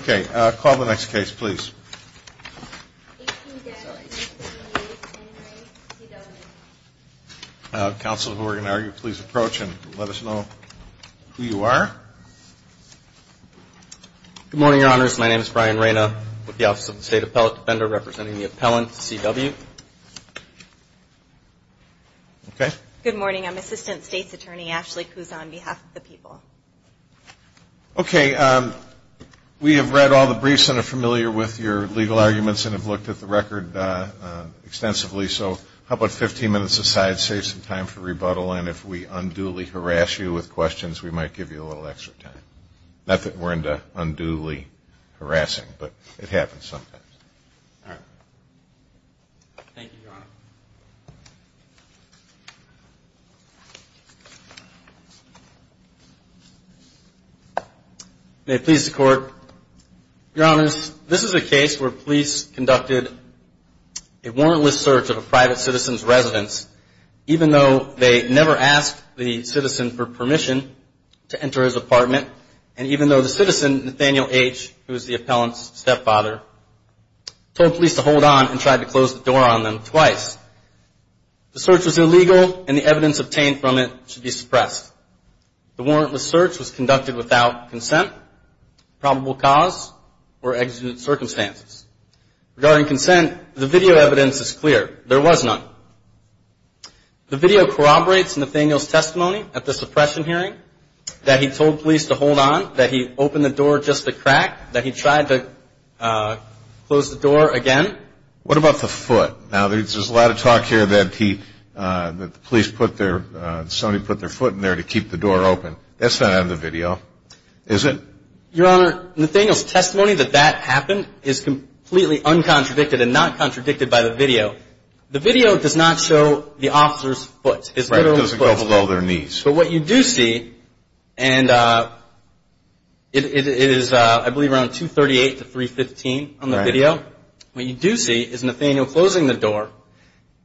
Okay, call the next case, please. Counsel, who we're going to argue, please approach and let us know who you are. Good morning, Your Honors. My name is Brian Reyna with the Office of the State Appellate Defender representing the appellant C.W. Okay. Good morning. I'm Assistant State's Attorney Ashley Kuzon on behalf of the people. Okay, we have read all the briefs and are familiar with your legal arguments and have looked at the record extensively. So how about 15 minutes aside, save some time for rebuttal, and if we unduly harass you with questions, we might give you a little extra time. Not that we're into unduly harassing, but it happens sometimes. All right. Thank you, Your Honor. May it please the Court. Your Honors, this is a case where police conducted a warrantless search of a private citizen's residence, even though they never asked the citizen for permission to enter his apartment, and even though the citizen, Nathaniel H., who is the appellant's stepfather, told police to hold on and tried to close the door on them twice. The search was illegal, and the evidence obtained from it should be suppressed. The warrantless search was conducted without consent, probable cause, or exigent circumstances. Regarding consent, the video evidence is clear. There was none. The video corroborates Nathaniel's testimony at the suppression hearing that he told police to hold on, that he opened the door just to crack, that he tried to close the door again. What about the foot? Now, there's a lot of talk here that the police put their – somebody put their foot in there to keep the door open. That's not out of the video, is it? Your Honor, Nathaniel's testimony that that happened is completely uncontradicted and not contradicted by the video. The video does not show the officer's foot. It's literally his foot. Right, it doesn't go below their knees. But what you do see, and it is, I believe, around 238 to 315 on the video. Right. What you do see is Nathaniel closing the door,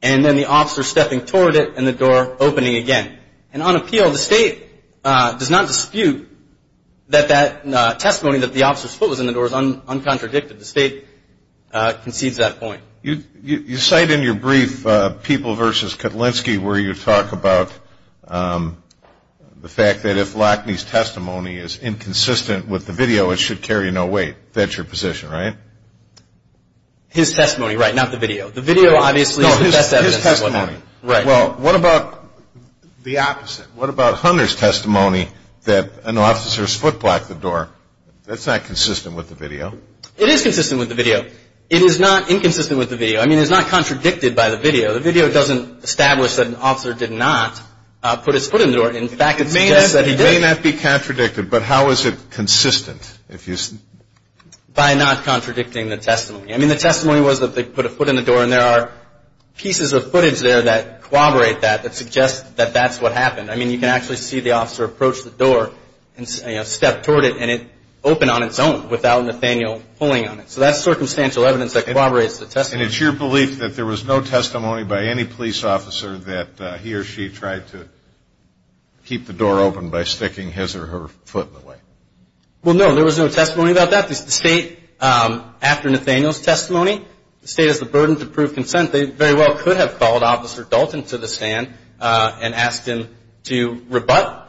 and then the officer stepping toward it, and the door opening again. And on appeal, the State does not dispute that that testimony, that the officer's foot was in the door, is uncontradicted. The State concedes that point. You cite in your brief, People v. Kutlinski, where you talk about the fact that if Lackney's testimony is inconsistent with the video, it should carry no weight. That's your position, right? His testimony, right, not the video. The video, obviously, is the best evidence. No, his testimony. Right. Well, what about the opposite? What about Hunter's testimony that an officer's foot blocked the door? That's not consistent with the video. It is consistent with the video. It is not inconsistent with the video. I mean, it's not contradicted by the video. The video doesn't establish that an officer did not put his foot in the door. In fact, it suggests that he did. It may not be contradicted, but how is it consistent? By not contradicting the testimony. I mean, the testimony was that they put a foot in the door, and there are pieces of footage there that corroborate that, that suggest that that's what happened. I mean, you can actually see the officer approach the door and step toward it, and it opened on its own without Nathaniel pulling on it. So that's circumstantial evidence that corroborates the testimony. And it's your belief that there was no testimony by any police officer that he or she tried to keep the door open by sticking his or her foot in the way? Well, no, there was no testimony about that. The State, after Nathaniel's testimony, the State has the burden to prove consent. They very well could have called Officer Dalton to the stand and asked him to rebut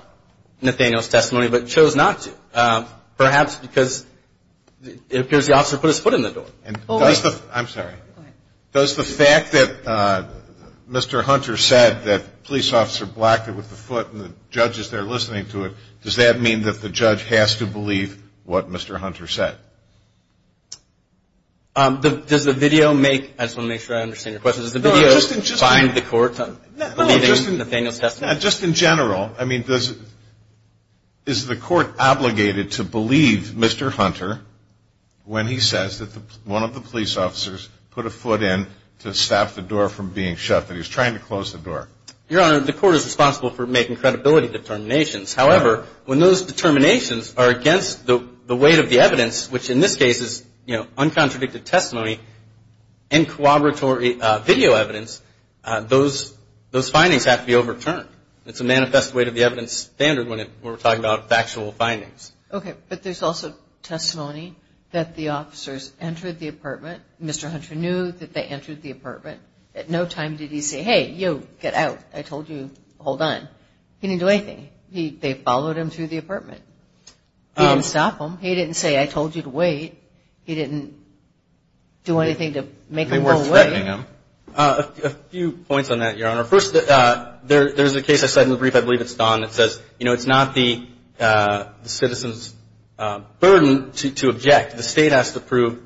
Nathaniel's testimony, but chose not to, perhaps because it appears the officer put his foot in the door. I'm sorry. Go ahead. Does the fact that Mr. Hunter said that police officer blocked it with the foot and the judge is there listening to it, does that mean that the judge has to believe what Mr. Hunter said? Does the video make – I just want to make sure I understand your question. Does the video find the court believing Nathaniel's testimony? No, just in general. Is the court obligated to believe Mr. Hunter when he says that one of the police officers put a foot in to stop the door from being shut, that he was trying to close the door? Your Honor, the court is responsible for making credibility determinations. However, when those determinations are against the weight of the evidence, which in this case is uncontradicted testimony and corroboratory video evidence, those findings have to be overturned. It's a manifest weight of the evidence standard when we're talking about factual findings. Okay. But there's also testimony that the officers entered the apartment. Mr. Hunter knew that they entered the apartment. At no time did he say, hey, you, get out. I told you, hold on. He didn't do anything. They followed him through the apartment. He didn't stop them. He didn't say, I told you to wait. He didn't do anything to make them go away. They weren't threatening him. A few points on that, Your Honor. First, there's a case I cited in the brief. I believe it's Don that says, you know, it's not the citizen's burden to object. The state has to approve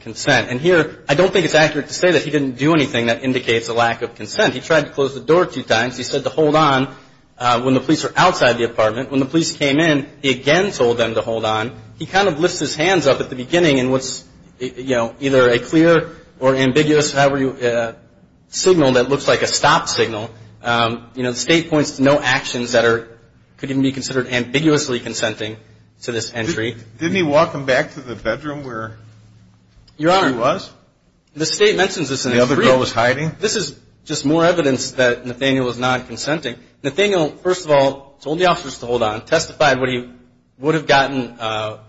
consent. And here, I don't think it's accurate to say that he didn't do anything that indicates a lack of consent. He tried to close the door two times. He said to hold on when the police were outside the apartment. When the police came in, he again told them to hold on. He kind of lifts his hands up at the beginning in what's, you know, either a clear or ambiguous signal that looks like a stop signal. You know, the state points to no actions that could even be considered ambiguously consenting to this entry. Didn't he walk them back to the bedroom where he was? Your Honor, the state mentions this in the brief. The other girl was hiding? This is just more evidence that Nathaniel was not consenting. Nathaniel, first of all, told the officers to hold on, testified what he would have gotten,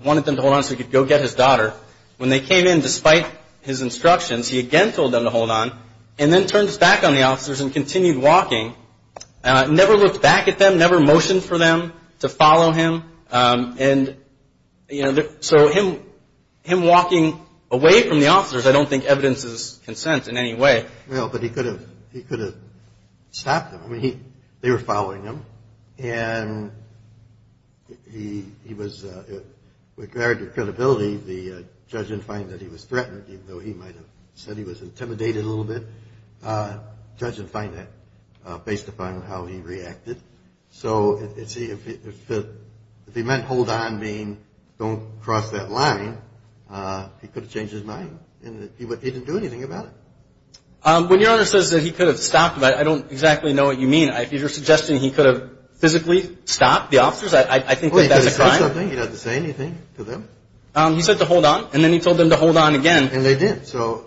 wanted them to hold on so he could go get his daughter. When they came in, despite his instructions, he again told them to hold on and then turned his back on the officers and continued walking, never looked back at them, never motioned for them to follow him. And, you know, so him walking away from the officers, I don't think evidences consent in any way. Well, but he could have stopped them. I mean, they were following him. And he was, with very good credibility, the judge didn't find that he was threatened, even though he might have said he was intimidated a little bit. The judge didn't find that, based upon how he reacted. So, you see, if he meant hold on, meaning don't cross that line, he could have changed his mind. He didn't do anything about it. When your Honor says that he could have stopped them, I don't exactly know what you mean. If you're suggesting he could have physically stopped the officers, I think that that's a crime. Well, he could have said something. He doesn't say anything to them. He said to hold on, and then he told them to hold on again. And they did, so.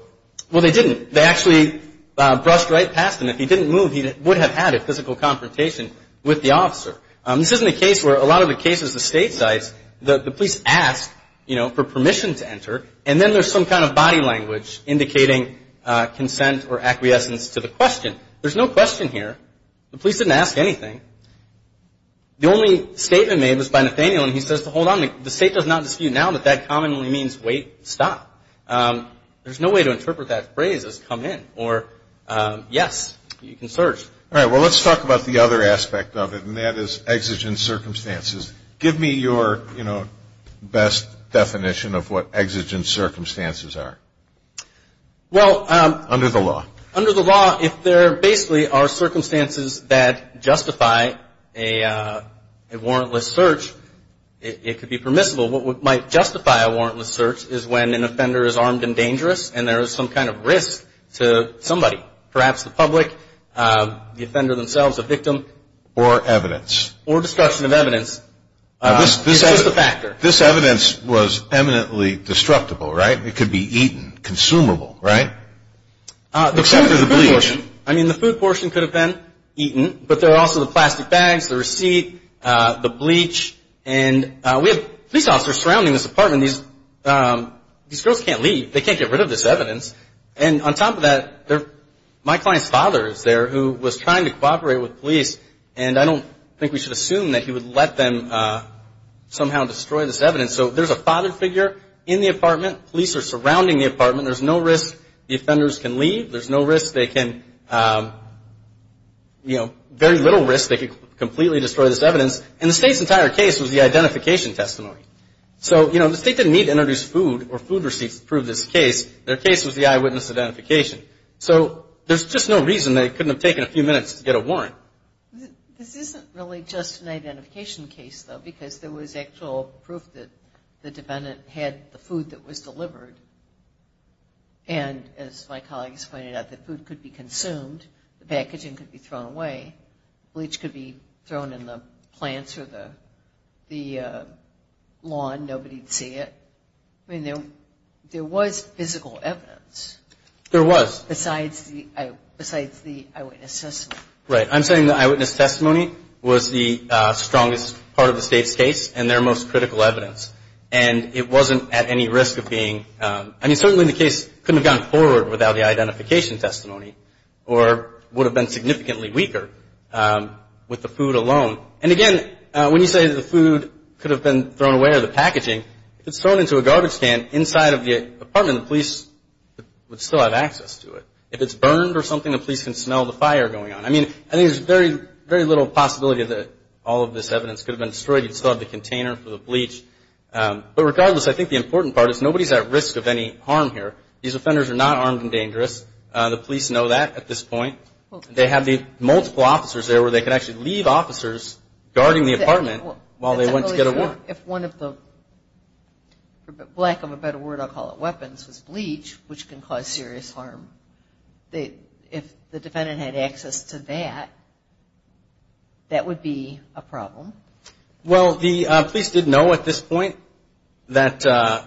Well, they didn't. They actually brushed right past him. If he didn't move, he would have had a physical confrontation with the officer. This isn't a case where a lot of the cases, the state sites, the police ask, you know, for permission to enter, and then there's some kind of body language indicating consent or acquiescence to the question. There's no question here. The police didn't ask anything. The only statement made was by Nathaniel, and he says to hold on. The state does not dispute now that that commonly means wait, stop. There's no way to interpret that phrase as come in or yes, you can search. All right. Well, let's talk about the other aspect of it, and that is exigent circumstances. Give me your, you know, best definition of what exigent circumstances are under the law. Under the law, if there basically are circumstances that justify a warrantless search, it could be permissible. What might justify a warrantless search is when an offender is armed and dangerous, and there is some kind of risk to somebody, perhaps the public, the offender themselves, a victim. Or evidence. Or destruction of evidence. It's just a factor. This evidence was eminently destructible, right? It could be eaten, consumable, right? Except for the bleach. I mean, the food portion could have been eaten, but there are also the plastic bags, the receipt, the bleach. And we have police officers surrounding this apartment. These girls can't leave. They can't get rid of this evidence. And on top of that, my client's father is there who was trying to cooperate with police, and I don't think we should assume that he would let them somehow destroy this evidence. Police are surrounding the apartment. There's no risk the offenders can leave. There's no risk they can, you know, very little risk they could completely destroy this evidence. And the State's entire case was the identification testimony. So, you know, the State didn't need to introduce food or food receipts to prove this case. Their case was the eyewitness identification. So there's just no reason they couldn't have taken a few minutes to get a warrant. This isn't really just an identification case, though, because there was actual proof that the defendant had the food that was delivered. And as my colleague has pointed out, the food could be consumed. The packaging could be thrown away. Bleach could be thrown in the plants or the lawn. Nobody would see it. I mean, there was physical evidence. There was. Besides the eyewitness testimony. Right. I'm saying the eyewitness testimony was the strongest part of the State's case and their most critical evidence. And it wasn't at any risk of being. I mean, certainly the case couldn't have gone forward without the identification testimony or would have been significantly weaker with the food alone. And, again, when you say that the food could have been thrown away or the packaging, if it's thrown into a garbage can inside of the apartment, the police would still have access to it. If it's burned or something, the police can smell the fire going on. I mean, I think there's very little possibility that all of this evidence could have been destroyed. You'd still have the container for the bleach. But regardless, I think the important part is nobody's at risk of any harm here. These offenders are not armed and dangerous. The police know that at this point. They have the multiple officers there where they can actually leave officers guarding the apartment while they went to get a warrant. If one of the, for lack of a better word, I'll call it weapons, was bleach, which can cause serious harm, if the defendant had access to that, that would be a problem. Well, the police did know at this point that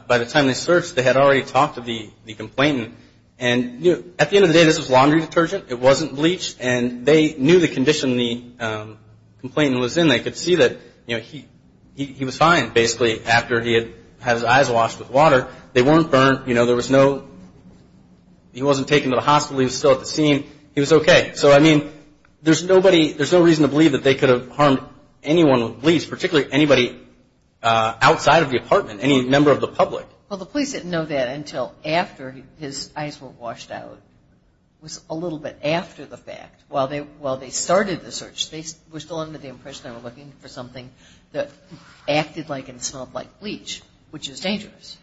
by the time they searched, they had already talked to the complainant. And at the end of the day, this was laundry detergent. It wasn't bleach. And they knew the condition the complainant was in. They could see that he was fine, basically, after he had had his eyes washed with water. They weren't burnt. You know, there was no, he wasn't taken to the hospital. He was still at the scene. He was okay. So, I mean, there's nobody, there's no reason to believe that they could have harmed anyone with bleach, particularly anybody outside of the apartment, any member of the public. Well, the police didn't know that until after his eyes were washed out. It was a little bit after the fact. While they started the search, they were still under the impression they were looking for something that acted like and smelled like bleach, which is dangerous.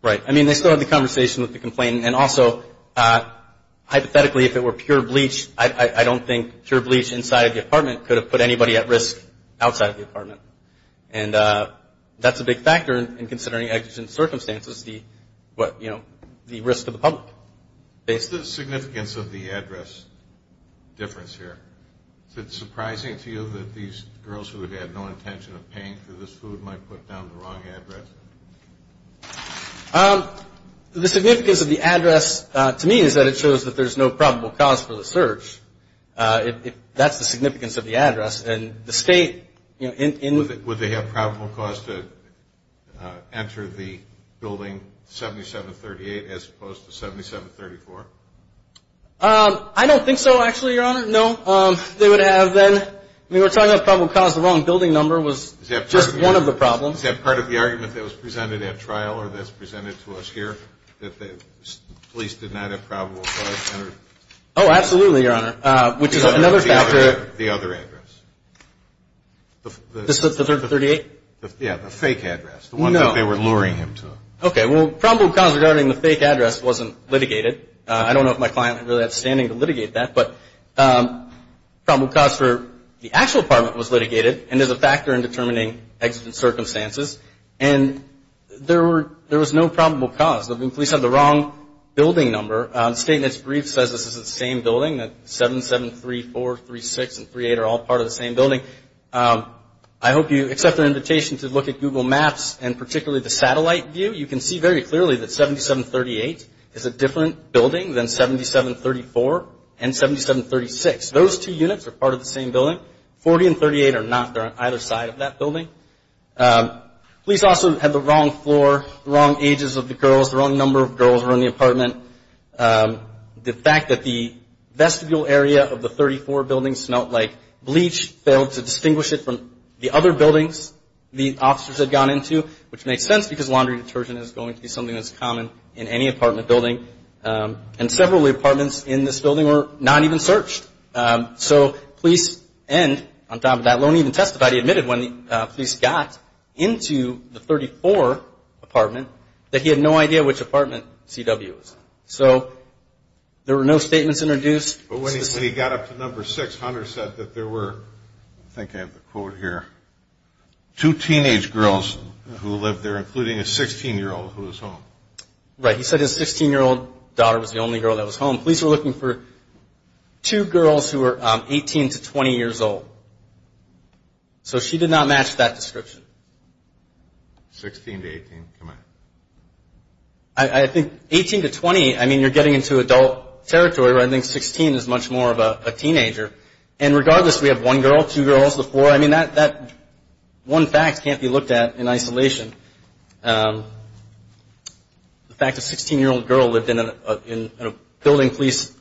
Right. I mean, they still had the conversation with the complainant. And also, hypothetically, if it were pure bleach, I don't think pure bleach inside of the apartment could have put anybody at risk outside of the apartment. And that's a big factor in considering, as in circumstances, the, you know, the risk to the public. What's the significance of the address difference here? Is it surprising to you that these girls who had no intention of paying for this food might put down the wrong address? The significance of the address to me is that it shows that there's no probable cause for the search. Would they have probable cause to enter the building 7738 as opposed to 7734? I don't think so, actually, Your Honor. No, they would have then. I mean, we're talking about probable cause of the wrong building number was just one of the problems. Is that part of the argument that was presented at trial or that's presented to us here, that the police did not have probable cause to enter? Oh, absolutely, Your Honor, which is another factor. The other address. This is the 38? Yeah, the fake address, the one that they were luring him to. Okay, well, probable cause regarding the fake address wasn't litigated. I don't know if my client had really had standing to litigate that, but probable cause for the actual apartment was litigated and is a factor in determining exigent circumstances. And there was no probable cause. The police had the wrong building number. The statement's brief says this is the same building, that 7734, 36, and 38 are all part of the same building. I hope you accept our invitation to look at Google Maps and particularly the satellite view. You can see very clearly that 7738 is a different building than 7734 and 7736. Those two units are part of the same building. 40 and 38 are not. They're on either side of that building. Police also had the wrong floor, the wrong ages of the girls, the wrong number of girls were in the apartment. The fact that the vestibule area of the 34 building smelled like bleach, failed to distinguish it from the other buildings the officers had gone into, which makes sense because laundry detergent is going to be something that's common in any apartment building. And several of the apartments in this building were not even searched. So police end on top of that, won't even testify. Somebody admitted when the police got into the 34 apartment that he had no idea which apartment CW was in. So there were no statements introduced. When he got up to number six, Hunter said that there were, I think I have the quote here, two teenage girls who lived there, including a 16-year-old who was home. Right. He said his 16-year-old daughter was the only girl that was home. Police were looking for two girls who were 18 to 20 years old. So she did not match that description. 16 to 18, come on. I think 18 to 20, I mean, you're getting into adult territory where I think 16 is much more of a teenager. And regardless, we have one girl, two girls, the four, I mean, that one fact can't be looked at in isolation. The fact a 16-year-old girl lived in a building police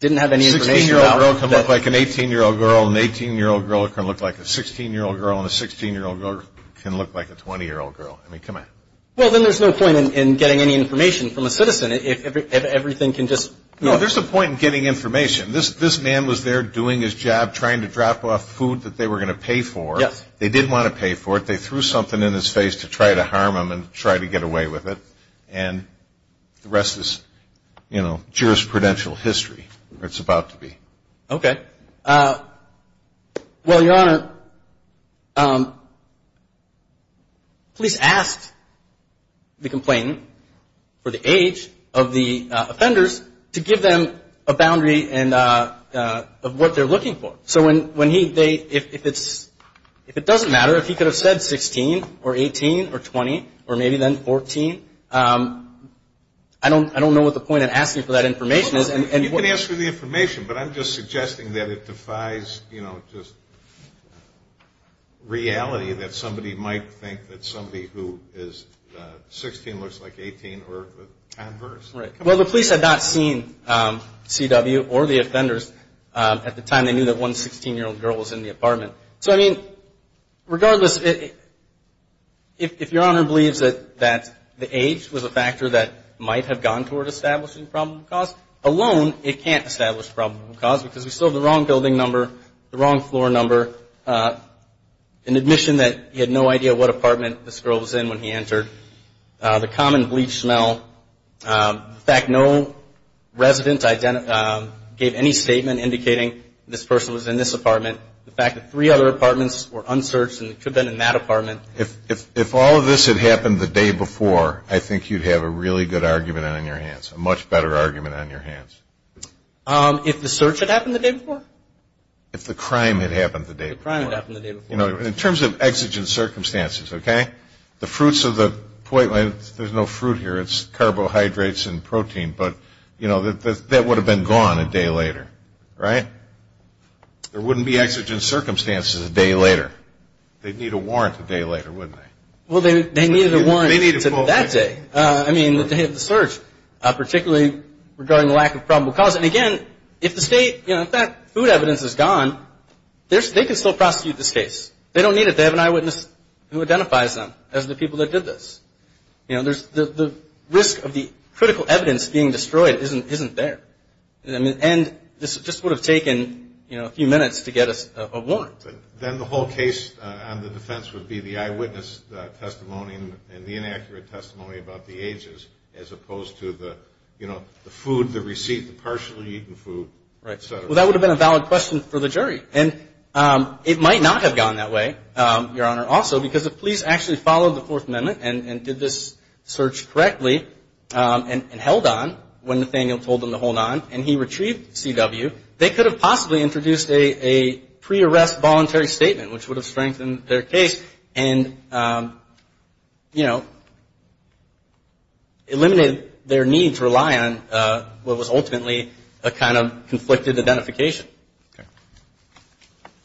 didn't have any information about. A 16-year-old girl can look like an 18-year-old girl, and an 18-year-old girl can look like a 16-year-old girl, and a 16-year-old girl can look like a 20-year-old girl. I mean, come on. Well, then there's no point in getting any information from a citizen if everything can just... No, there's a point in getting information. This man was there doing his job, trying to drop off food that they were going to pay for. Yes. They didn't want to pay for it. They threw something in his face to try to harm him and try to get away with it. And the rest is, you know, jurisprudential history, or it's about to be. Okay. Well, Your Honor, police asked the complainant for the age of the offenders to give them a boundary of what they're looking for. So when he... if it's... if it doesn't matter, if he could have said 16 or 18 or 20 or maybe then 14, I don't know what the point in asking for that information is. You can ask for the information, but I'm just suggesting that it defies, you know, just reality, that somebody might think that somebody who is 16 looks like 18 or the converse. Right. Well, the police had not seen C.W. or the offenders at the time they knew that one 16-year-old girl was in the apartment. So, I mean, regardless, if Your Honor believes that the age was a factor that might have gone toward establishing probable cause, alone it can't establish probable cause because we still have the wrong building number, the wrong floor number, an admission that he had no idea what apartment this girl was in when he entered, the common bleach smell, the fact no resident gave any statement indicating this person was in this apartment, the fact that three other apartments were unsearched and it could have been in that apartment. If all of this had happened the day before, I think you'd have a really good argument on your hands, a much better argument on your hands. If the search had happened the day before? If the crime had happened the day before. The crime had happened the day before. In terms of exigent circumstances, okay, the fruits of the, there's no fruit here. It's carbohydrates and protein. But, you know, that would have been gone a day later, right? There wouldn't be exigent circumstances a day later. They'd need a warrant a day later, wouldn't they? Well, they needed a warrant that day. I mean, the day of the search, particularly regarding the lack of probable cause. And, again, if the state, you know, if that food evidence is gone, they can still prosecute this case. They don't need it. They have an eyewitness who identifies them as the people that did this. You know, the risk of the critical evidence being destroyed isn't there. And this just would have taken, you know, a few minutes to get a warrant. Then the whole case on the defense would be the eyewitness testimony and the inaccurate testimony about the ages as opposed to the, you know, the food, the receipt, the partially eaten food, et cetera. Well, that would have been a valid question for the jury. And it might not have gone that way, Your Honor, also, because if police actually followed the Fourth Amendment and did this search correctly and held on when Nathaniel told them to hold on and he retrieved CW, they could have possibly introduced a pre-arrest voluntary statement, which would have strengthened their case and, you know, eliminated their need to rely on what was ultimately a kind of conflicted identification. Okay.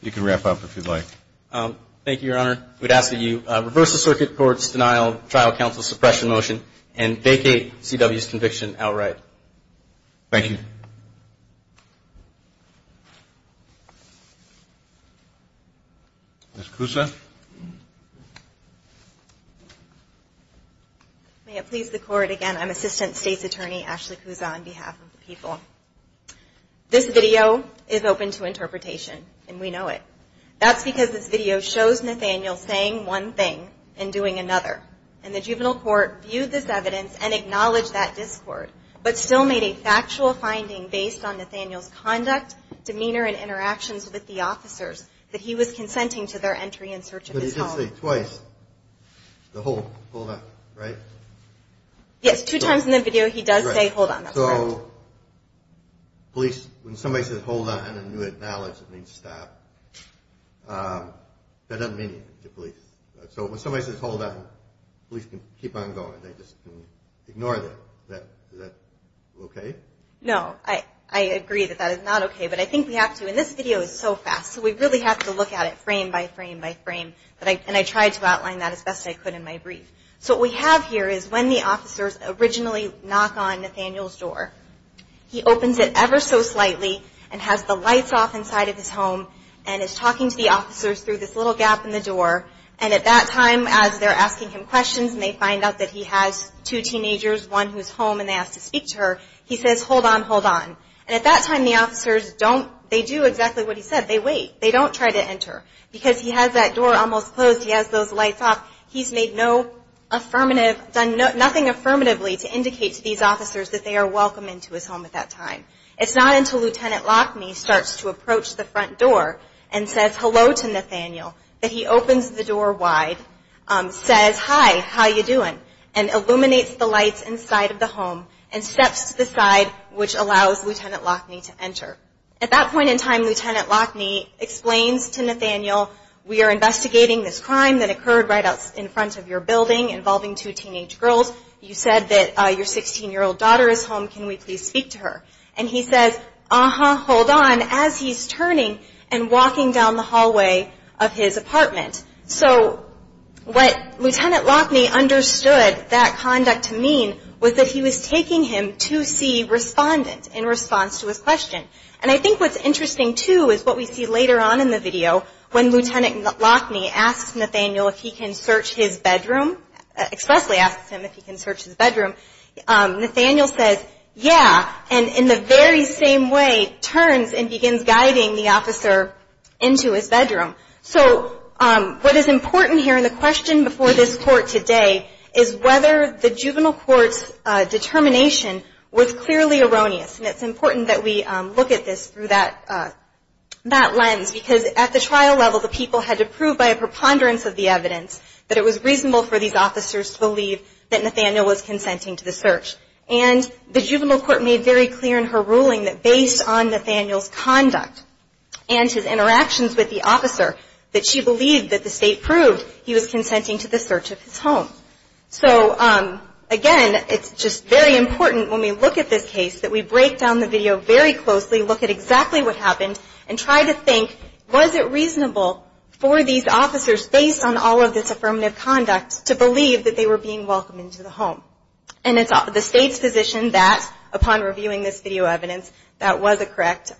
You can wrap up if you'd like. Thank you, Your Honor. We'd ask that you reverse the circuit court's denial of trial counsel suppression motion and vacate CW's conviction outright. Thank you. Ms. Cusa. May it please the Court, again, I'm Assistant State's Attorney Ashley Cusa on behalf of the people. This video is open to interpretation, and we know it. That's because this video shows Nathaniel saying one thing and doing another. And the juvenile court viewed this evidence and acknowledged that discord, but still made a factual finding based on Nathaniel's conduct, demeanor, and interactions with the officers that he was consenting to their entry in search of his home. But he did say twice to hold on, right? Yes, two times in the video he does say hold on. That's correct. So police, when somebody says hold on and then you acknowledge it means stop, that doesn't mean anything to police. So when somebody says hold on, police can keep on going. They just can ignore that. Is that okay? No. I agree that that is not okay, but I think we have to. And this video is so fast, so we really have to look at it frame by frame by frame. And I tried to outline that as best I could in my brief. So what we have here is when the officers originally knock on Nathaniel's door, he opens it ever so slightly and has the lights off inside of his home and is talking to the officers through this little gap in the door. And at that time as they're asking him questions and they find out that he has two teenagers, one who's home and they asked to speak to her, he says hold on, hold on. And at that time the officers don't, they do exactly what he said, they wait. They don't try to enter. Because he has that door almost closed, he has those lights off, he's made no affirmative, done nothing affirmatively to indicate to these officers that they are welcome into his home at that time. It's not until Lieutenant Lockney starts to approach the front door and says hello to Nathaniel that he opens the door wide, says hi, how you doing, and illuminates the lights inside of the home and steps to the side which allows Lieutenant Lockney to enter. At that point in time, Lieutenant Lockney explains to Nathaniel, we are investigating this crime that occurred right out in front of your building involving two teenage girls. You said that your 16-year-old daughter is home. Can we please speak to her? And he says, uh-huh, hold on, as he's turning and walking down the hallway of his apartment. So what Lieutenant Lockney understood that conduct to mean was that he was taking him to see respondent in response to his question. And I think what's interesting too is what we see later on in the video when Lieutenant Lockney asks Nathaniel if he can search his bedroom, expressly asks him if he can search his bedroom, Nathaniel says yeah, and in the very same way turns and begins guiding the officer into his bedroom. So what is important here in the question before this court today is whether the juvenile court's determination was clearly erroneous. And it's important that we look at this through that lens because at the trial level the people had to prove by a preponderance of the evidence that it was reasonable for these officers to believe that Nathaniel was consenting to the search. And the juvenile court made very clear in her ruling that based on Nathaniel's conduct and his interactions with the officer that she believed that the state proved he was consenting to the search of his home. So, again, it's just very important when we look at this case that we break down the video very closely, look at exactly what happened, and try to think was it reasonable for these officers based on all of this affirmative conduct to believe that they were being welcomed into the home. And it's the state's position that upon reviewing this video evidence that was a correct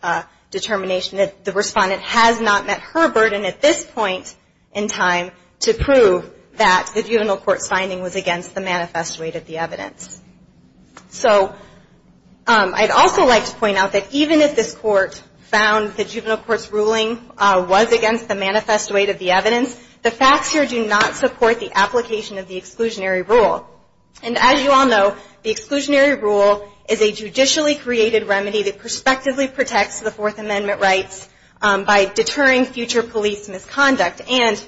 determination that the respondent has not met her burden at this point in time to prove that the juvenile court's finding was against the manifesto aid of the evidence. So I'd also like to point out that even if this court found the juvenile court's ruling was against the manifesto aid of the evidence, the facts here do not support the application of the exclusionary rule. And as you all know, the exclusionary rule is a judicially created remedy that prospectively protects the Fourth Amendment rights by deterring future police misconduct. And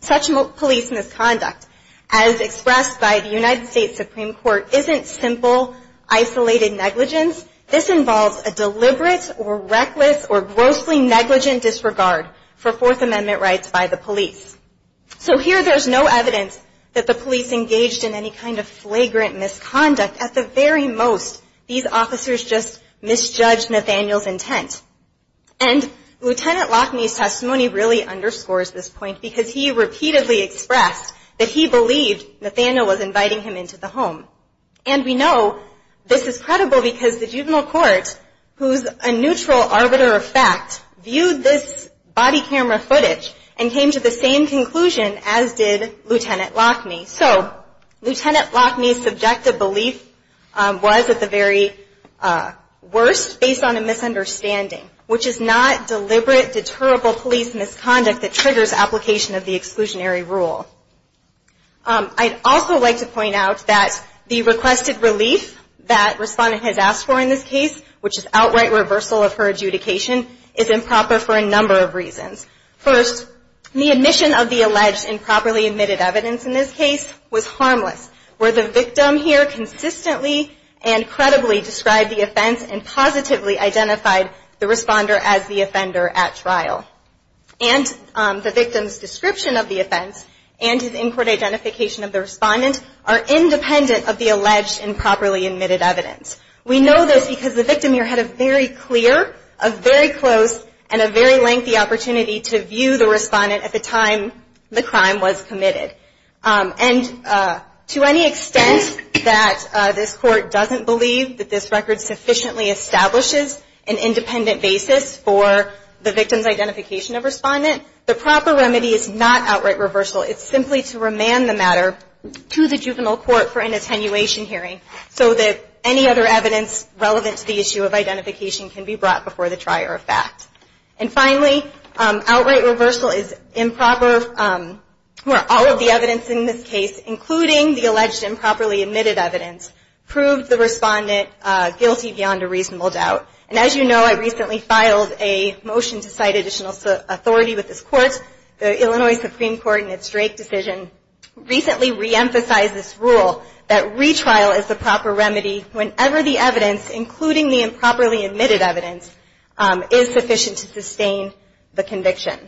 such police misconduct, as expressed by the United States Supreme Court, isn't simple, isolated negligence. This involves a deliberate or reckless or grossly negligent disregard for Fourth Amendment rights by the police. So here there's no evidence that the police engaged in any kind of flagrant misconduct. At the very most, these officers just misjudged Nathaniel's intent. And Lieutenant Lockney's testimony really underscores this point because he repeatedly expressed that he believed Nathaniel was inviting him into the home. And we know this is credible because the juvenile court, who's a neutral arbiter of fact, viewed this body camera footage and came to the same conclusion as did Lieutenant Lockney. So Lieutenant Lockney's subjective belief was, at the very worst, based on a misunderstanding, which is not deliberate, deterrable police misconduct that triggers application of the exclusionary rule. I'd also like to point out that the requested relief that Respondent has asked for in this case, which is outright reversal of her adjudication, is improper for a number of reasons. First, the admission of the alleged improperly admitted evidence in this case was harmless, where the victim here consistently and credibly described the offense and positively identified the responder as the offender at trial. And the victim's description of the offense and his in-court identification of the respondent are independent of the alleged improperly admitted evidence. We know this because the victim here had a very clear, a very close, and a very lengthy opportunity to view the respondent at the time the crime was committed. And to any extent that this Court doesn't believe that this record sufficiently establishes an independent basis for the victim's identification of Respondent, the proper remedy is not outright reversal. It's simply to remand the matter to the juvenile court for an attenuation hearing so that any other evidence relevant to the issue of identification can be brought before the trier of facts. And finally, outright reversal is improper where all of the evidence in this case, including the alleged improperly admitted evidence, proved the Respondent guilty beyond a reasonable doubt. And as you know, I recently filed a motion to cite additional authority with this Court. The Illinois Supreme Court in its Drake decision recently reemphasized this rule that retrial is the proper remedy whenever the evidence, including the improperly admitted evidence, is sufficient to sustain the conviction.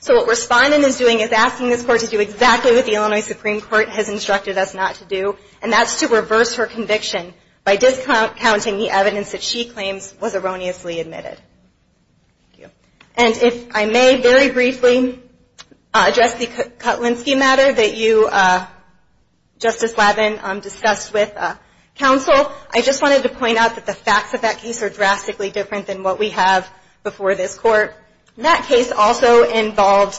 So what Respondent is doing is asking this Court to do exactly what the Illinois Supreme Court has instructed us not to do, and that's to reverse her conviction by discount-counting the evidence that she claims was erroneously admitted. And if I may very briefly address the Kutlinski matter that you, Justice Lavin, discussed with counsel, I just wanted to point out that the facts of that case are drastically different than what we have before this Court. That case also involved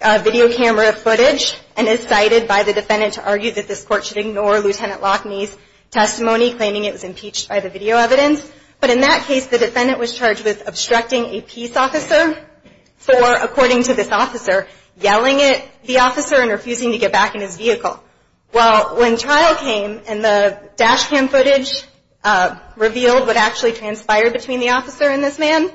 video camera footage and is cited by the Defendant to argue that this Court should ignore Lt. Lockney's testimony claiming it was impeached by the video evidence. But in that case, the Defendant was charged with obstructing a peace officer for, according to this officer, yelling at the officer and refusing to get back in his vehicle. Well, when trial came and the dash cam footage revealed what actually transpired between the officer and this man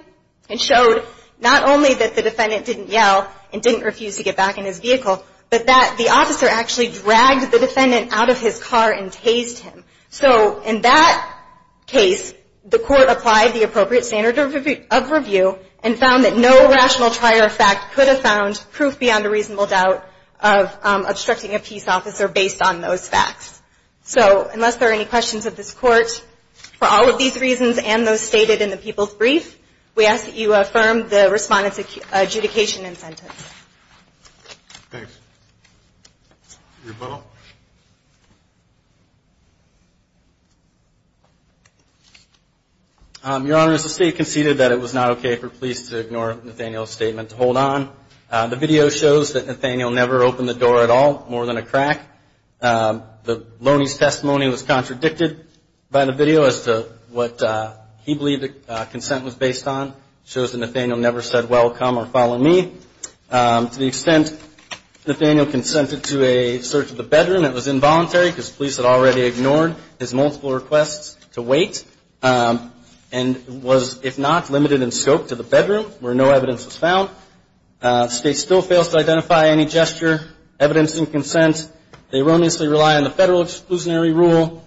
and showed not only that the Defendant didn't yell and didn't refuse to get back in his vehicle, but that the officer actually dragged the Defendant out of his car and tased him. So in that case, the Court applied the appropriate standard of review and found that no rational trial or fact could have found proof beyond a reasonable doubt of obstructing a peace officer based on those facts. So unless there are any questions of this Court for all of these reasons and those stated in the People's Brief, we ask that you affirm the Respondent's adjudication and sentence. Thanks. Rebuttal. Your Honor, as the State conceded that it was not okay for police to ignore Nathaniel's statement to hold on, the video shows that Nathaniel never opened the door at all, more than a crack. Lowney's testimony was contradicted by the video as to what he believed the consent was based on. It shows that Nathaniel never said, welcome or follow me. To the extent Nathaniel consented to a search of the bedroom, it was involuntary because police had already ignored his multiple requests to wait and was, if not, limited in scope to the bedroom where no evidence was found. The State still fails to identify any gesture, evidence and consent. They erroneously rely on the Federal exclusionary rule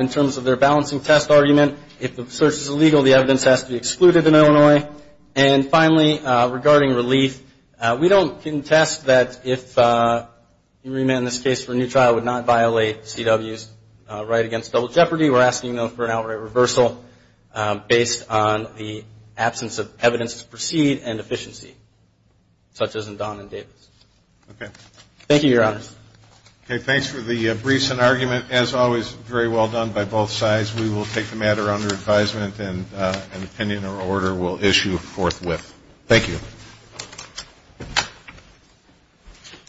in terms of their balancing test argument. If the search is illegal, the evidence has to be excluded in Illinois. And finally, regarding relief, we don't contest that if you remand this case for a new trial, it would not violate CW's right against double jeopardy. We're asking, though, for an outright reversal based on the absence of evidence to proceed and efficiency, such as in Don and Davis. Thank you, Your Honors. Okay. Thanks for the briefs and argument. As always, very well done by both sides. We will take the matter under advisement and an opinion or order we'll issue forthwith. Thank you.